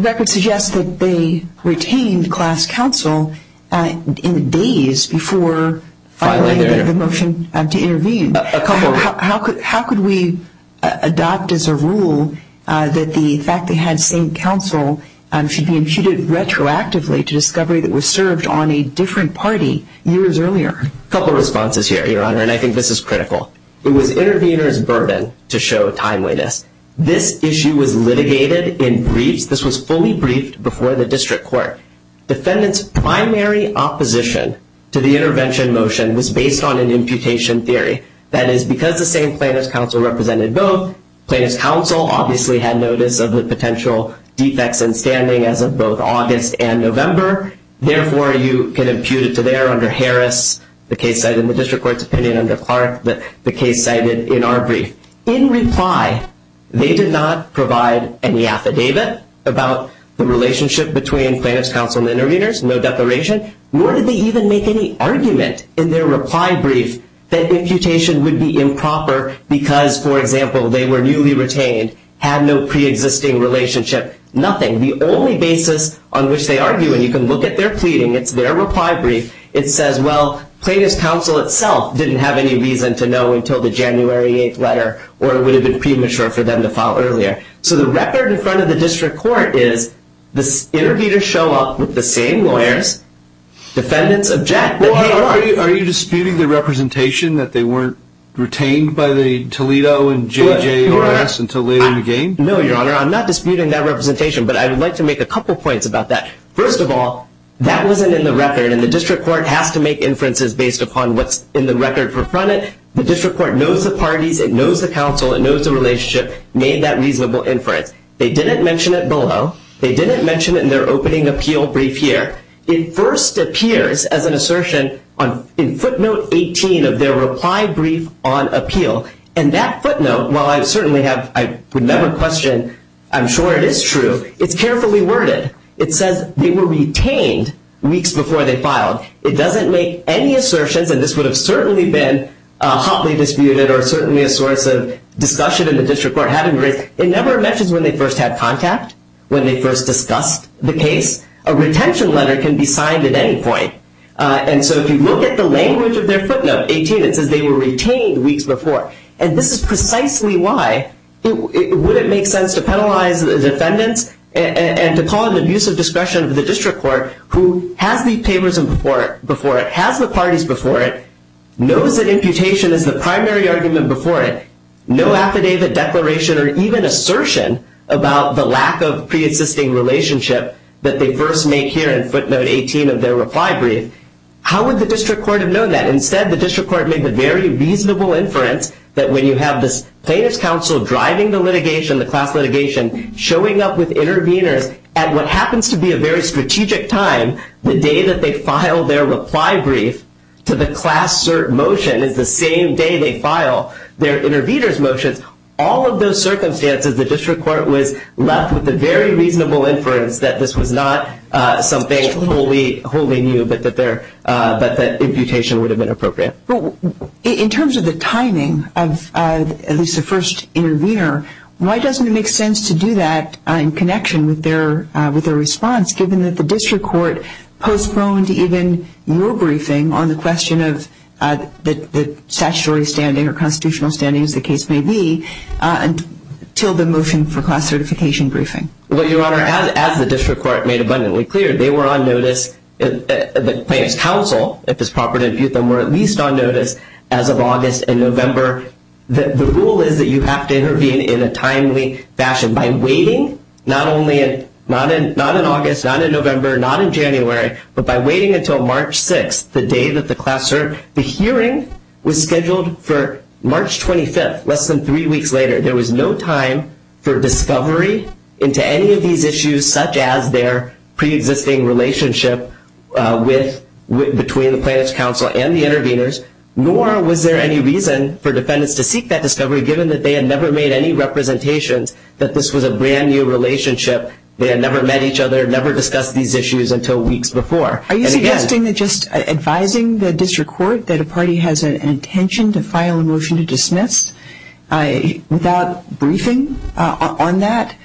record suggests that they retained class counsel in the days before filing the motion to intervene. How could we adopt as a rule that the fact they had the same counsel should be imputed retroactively to discovery that was served on a different party years earlier? A couple of responses here, Your Honor, and I think this is critical. It was intervener's burden to show timeliness. This issue was litigated in briefs. This was fully briefed before the district court. Defendant's primary opposition to the intervention motion was based on an imputation theory. That is, because the same plaintiff's counsel represented both, plaintiff's counsel obviously had notice of the potential defects in standing as of both August and November. Therefore, you can impute it to there under Harris, the case cited in the district court's opinion under Clark, the case cited in our brief. In reply, they did not provide any affidavit about the relationship between plaintiff's counsel and the interveners, no declaration, nor did they even make any argument in their reply brief that imputation would be improper because, for example, they were newly retained, had no preexisting relationship, nothing. And the only basis on which they argue, and you can look at their pleading, it's their reply brief, it says, well, plaintiff's counsel itself didn't have any reason to know until the January 8th letter or it would have been premature for them to file earlier. So the record in front of the district court is the interveners show up with the same lawyers. Defendants object. Are you disputing the representation that they weren't retained by the Toledo and JJOS until later in the game? No, Your Honor. I'm not disputing that representation, but I would like to make a couple points about that. First of all, that wasn't in the record, and the district court has to make inferences based upon what's in the record in front of it. The district court knows the parties, it knows the counsel, it knows the relationship, made that reasonable inference. They didn't mention it below. They didn't mention it in their opening appeal brief here. It first appears as an assertion in footnote 18 of their reply brief on appeal, and that footnote, while I would never question I'm sure it is true, it's carefully worded. It says they were retained weeks before they filed. It doesn't make any assertions, and this would have certainly been hotly disputed or certainly a source of discussion in the district court. It never mentions when they first had contact, when they first discussed the case. A retention letter can be signed at any point, and so if you look at the language of their footnote 18, it says they were retained weeks before. And this is precisely why it wouldn't make sense to penalize the defendants and to call it an abuse of discretion of the district court who has the papers before it, has the parties before it, knows that imputation is the primary argument before it, no affidavit, declaration, or even assertion about the lack of preexisting relationship that they first make here in footnote 18 of their reply brief. How would the district court have known that? Instead, the district court made the very reasonable inference that when you have this plaintiff's counsel driving the litigation, the class litigation, showing up with interveners at what happens to be a very strategic time, the day that they file their reply brief to the class cert motion is the same day they file their intervener's motions. All of those circumstances, the district court was left with the very reasonable inference that this was not something wholly new, but that imputation would have been appropriate. In terms of the timing of at least the first intervener, why doesn't it make sense to do that in connection with their response, given that the district court postponed even your briefing on the question of the statutory standing or constitutional standing, as the case may be, until the motion for class certification briefing? Well, Your Honor, as the district court made abundantly clear, they were on notice, the plaintiff's counsel, if it's proper to impute them, were at least on notice as of August and November. The rule is that you have to intervene in a timely fashion, by waiting not in August, not in November, not in January, but by waiting until March 6th, the day that the class cert, the hearing was scheduled for March 25th, less than three weeks later. There was no time for discovery into any of these issues, such as their preexisting relationship between the plaintiff's counsel and the interveners, nor was there any reason for defendants to seek that discovery, given that they had never made any representations that this was a brand-new relationship. They had never met each other, never discussed these issues until weeks before. Are you suggesting that just advising the district court that a party has an intention to file a motion to dismiss, without briefing on that,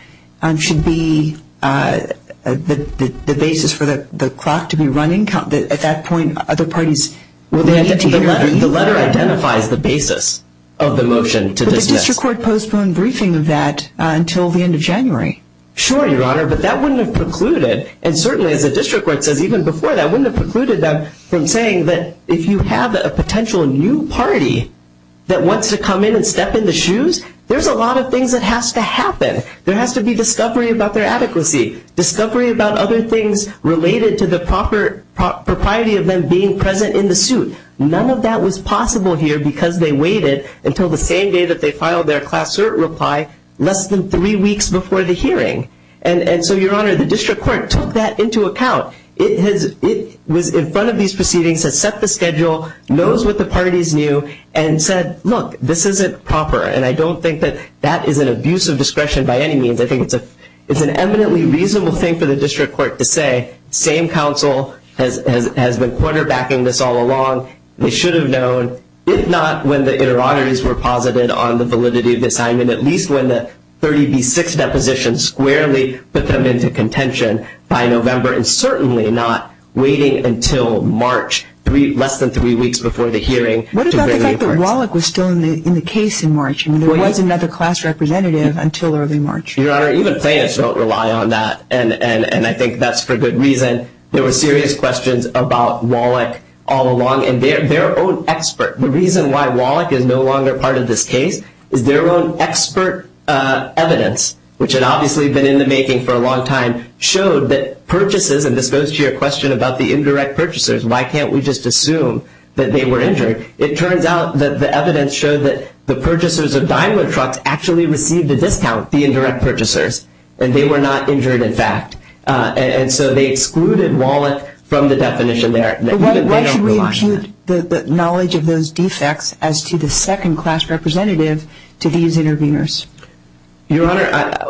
should be the basis for the clock to be running? At that point, other parties will need to intervene? The letter identifies the basis of the motion to dismiss. Would the district court postpone briefing of that until the end of January? Sure, Your Honor, but that wouldn't have precluded, and certainly as the district court says even before that, wouldn't have precluded them from saying that if you have a potential new party that wants to come in and step in the shoes, there's a lot of things that has to happen. There has to be discovery about their adequacy, discovery about other things related to the proper propriety of them being present in the suit. None of that was possible here because they waited until the same day that they filed their class cert reply, less than three weeks before the hearing. And so, Your Honor, the district court took that into account. It was in front of these proceedings, has set the schedule, knows what the parties knew, and said, look, this isn't proper, and I don't think that that is an abuse of discretion by any means. I think it's an eminently reasonable thing for the district court to say, same counsel has been quarterbacking this all along. They should have known, if not when the interrogatories were posited on the validity of the assignment, at least when the 30B6 deposition squarely put them into contention by November. And certainly not waiting until March, less than three weeks before the hearing. What about the fact that Wallach was still in the case in March, and there was another class representative until early March? Your Honor, even plaintiffs don't rely on that, and I think that's for good reason. There were serious questions about Wallach all along, and their own expert. The reason why Wallach is no longer part of this case is their own expert evidence, which had obviously been in the making for a long time, showed that purchases, and this goes to your question about the indirect purchasers, why can't we just assume that they were injured? It turns out that the evidence showed that the purchasers of Daimler trucks actually received a discount, the indirect purchasers, and they were not injured in fact. And so they excluded Wallach from the definition there. Why should we include the knowledge of those defects as to the second class representative to these interveners? Your Honor,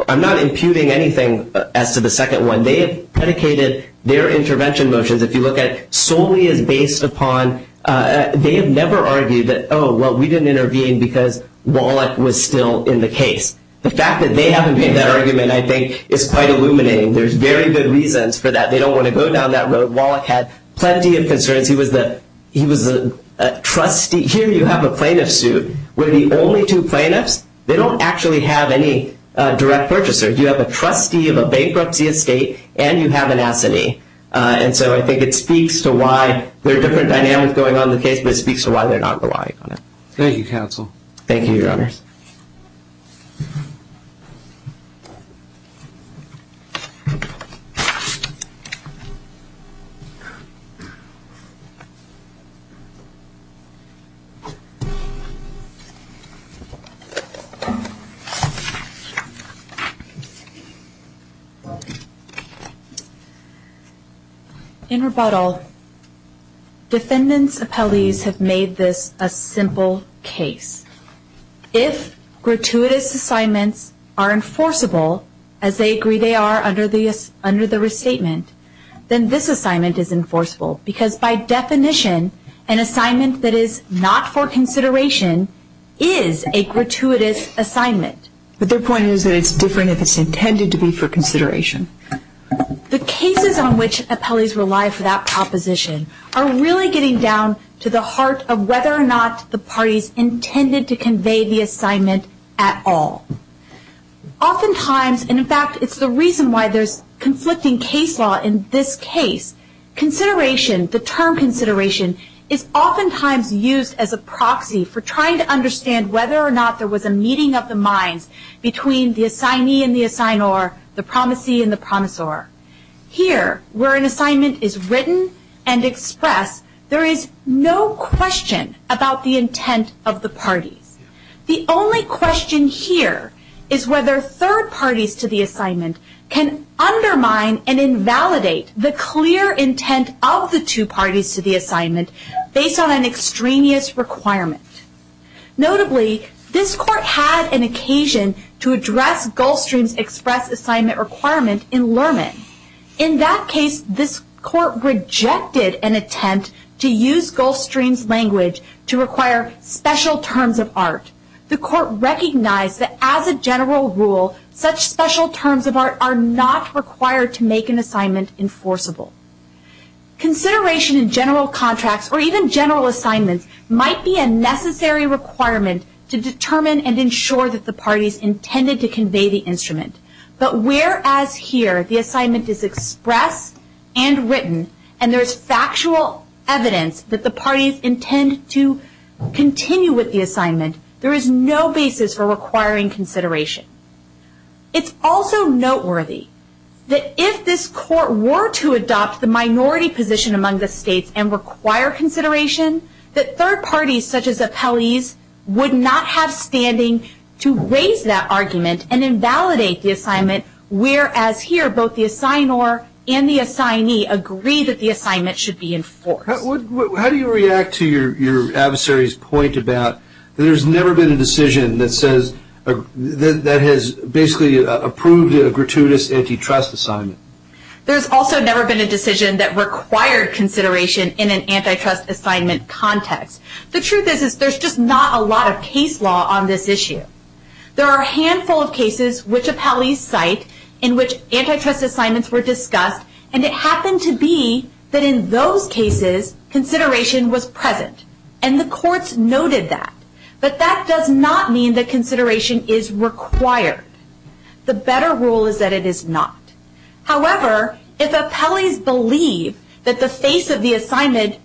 I'm not imputing anything as to the second one. They have predicated their intervention motions, if you look at it, solely as based upon, they have never argued that, oh, well, we didn't intervene because Wallach was still in the case. The fact that they haven't made that argument, I think, is quite illuminating. There's very good reasons for that. They don't want to go down that road. Wallach had plenty of concerns. He was a trustee. Here you have a plaintiff suit where the only two plaintiffs, they don't actually have any direct purchasers. You have a trustee of a bankruptcy estate and you have an S&E. And so I think it speaks to why there are different dynamics going on in the case, but it speaks to why they're not relying on it. Thank you, Your Honors. In rebuttal, defendants' appellees have made this a simple case. If gratuitous assignments are enforceable, as they agree they are under the restatement, then this assignment is enforceable because, by definition, an assignment that is not for consideration is a gratuitous assignment. But their point is that it's different if it's intended to be for consideration. The cases on which appellees rely for that proposition are really getting down to the heart of whether or not the parties intended to convey the assignment at all. Oftentimes, and in fact it's the reason why there's conflicting case law in this case, consideration, the term consideration, is oftentimes used as a proxy for trying to understand whether or not there was a meeting of the minds between the assignee and the assignor, the promisee and the promisor. Here, where an assignment is written and expressed, there is no question about the intent of the parties. The only question here is whether third parties to the assignment can undermine and invalidate the clear intent of the two parties to the assignment based on an extremist requirement. Notably, this court had an occasion to address Gulfstream's express assignment requirement in Lerman. In that case, this court rejected an attempt to use Gulfstream's language to require special terms of art. The court recognized that as a general rule, such special terms of art are not required to make an assignment enforceable. Consideration in general contracts or even general assignments might be a necessary requirement to determine and ensure that the parties intended to convey the instrument. But whereas here, the assignment is expressed and written and there is factual evidence that the parties intend to continue with the assignment, there is no basis for requiring consideration. It's also noteworthy that if this court were to adopt the minority position among the states and require consideration, that third parties such as appellees would not have standing to raise that argument and invalidate the assignment, whereas here, both the assignor and the assignee agree that the assignment should be enforced. How do you react to your adversary's point about there's never been a decision that says that has basically approved a gratuitous antitrust assignment? There's also never been a decision that required consideration in an antitrust assignment context. The truth is there's just not a lot of case law on this issue. There are a handful of cases which appellees cite in which antitrust assignments were discussed and it happened to be that in those cases, consideration was present and the courts noted that. But that does not mean that consideration is required. The better rule is that it is not. However, if appellees believe that the face of the assignment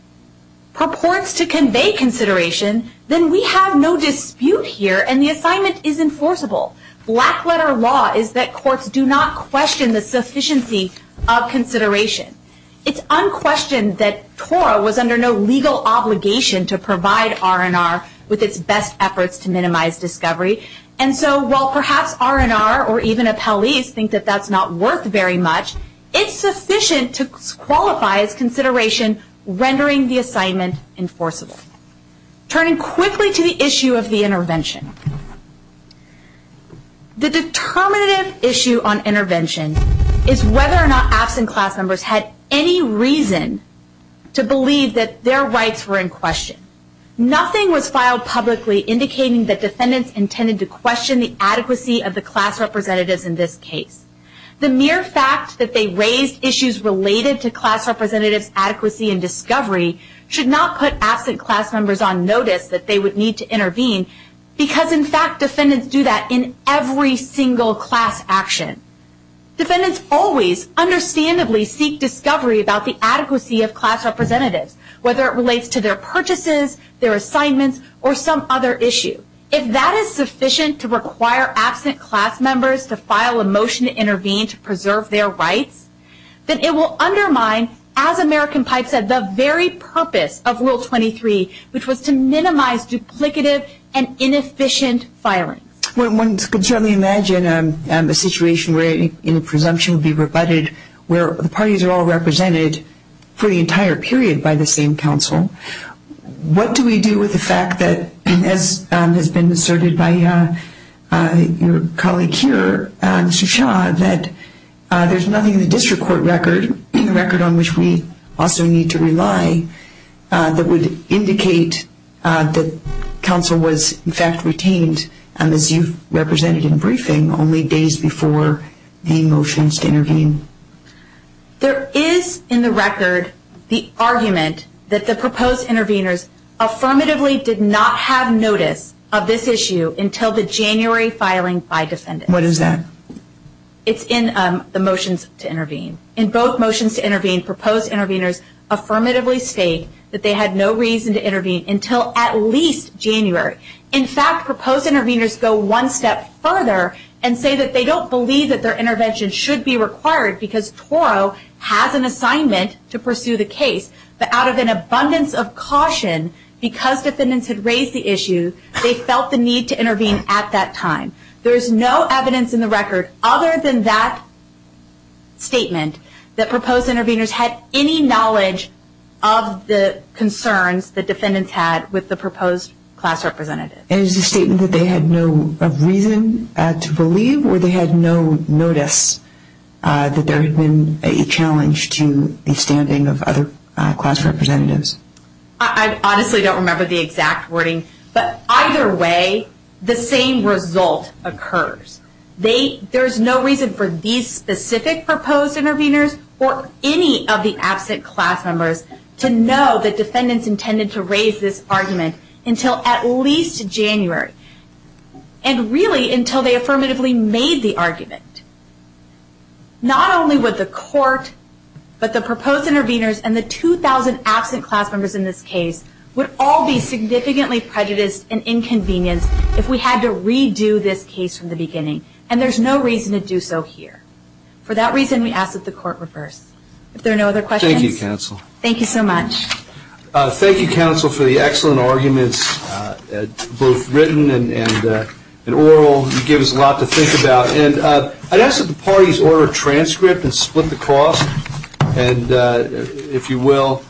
purports to convey consideration, then we have no dispute here and the assignment is enforceable. Black-letter law is that courts do not question the sufficiency of consideration. It's unquestioned that TORA was under no legal obligation to provide R&R with its best efforts to minimize discovery. And so while perhaps R&R or even appellees think that that's not worth very much, it's sufficient to qualify as consideration rendering the assignment enforceable. Turning quickly to the issue of the intervention. The determinative issue on intervention is whether or not absent class members had any reason to believe that their rights were in question. Nothing was filed publicly indicating that defendants intended to question the adequacy of the class representatives in this case. The mere fact that they raised issues related to class representatives' adequacy and discovery should not put absent class members on notice that they would need to intervene because in fact defendants do that in every single class action. Defendants always understandably seek discovery about the adequacy of class representatives, whether it relates to their purchases, their assignments, or some other issue. If that is sufficient to require absent class members to file a motion to intervene to preserve their rights, then it will undermine, as American Pipe said, the very purpose of Rule 23, which was to minimize duplicative and inefficient firing. One could certainly imagine a situation where any presumption would be rebutted where the parties are all represented for the entire period by the same counsel. What do we do with the fact that, as has been asserted by your colleague here, Mr. Shah, that there's nothing in the district court record, the record on which we also need to rely, that would indicate that counsel was in fact retained, as you represented in briefing, only days before the motions to intervene? There is in the record the argument that the proposed intervenors affirmatively did not have notice of this issue until the January filing by defendants. What is that? It's in the motions to intervene. In both motions to intervene, proposed intervenors affirmatively state that they had no reason to intervene until at least January. In fact, proposed intervenors go one step further and say that they don't believe that their intervention should be required because Toro has an assignment to pursue the case. But out of an abundance of caution, because defendants had raised the issue, they felt the need to intervene at that time. There is no evidence in the record other than that statement that proposed intervenors had any knowledge of the concerns the defendants had with the proposed class representative. Is the statement that they had no reason to believe or they had no notice that there had been a challenge to the standing of other class representatives? I honestly don't remember the exact wording. But either way, the same result occurs. There is no reason for these specific proposed intervenors or any of the absent class members to know that defendants intended to raise this argument until at least January. And really until they affirmatively made the argument. Not only would the court, but the proposed intervenors and the 2,000 absent class members in this case would all be significantly prejudiced and inconvenienced if we had to redo this case from the beginning. And there's no reason to do so here. For that reason, we ask that the court reverse. If there are no other questions. Thank you, counsel. Thank you so much. Thank you, counsel, for the excellent arguments, both written and oral. You gave us a lot to think about. And I'd ask that the parties order a transcript and split the cost, if you will.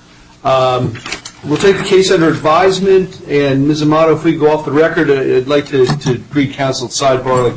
We'll take the case under advisement. And Ms. Amato, if we could go off the record, I'd like to greet counsel Sidebar.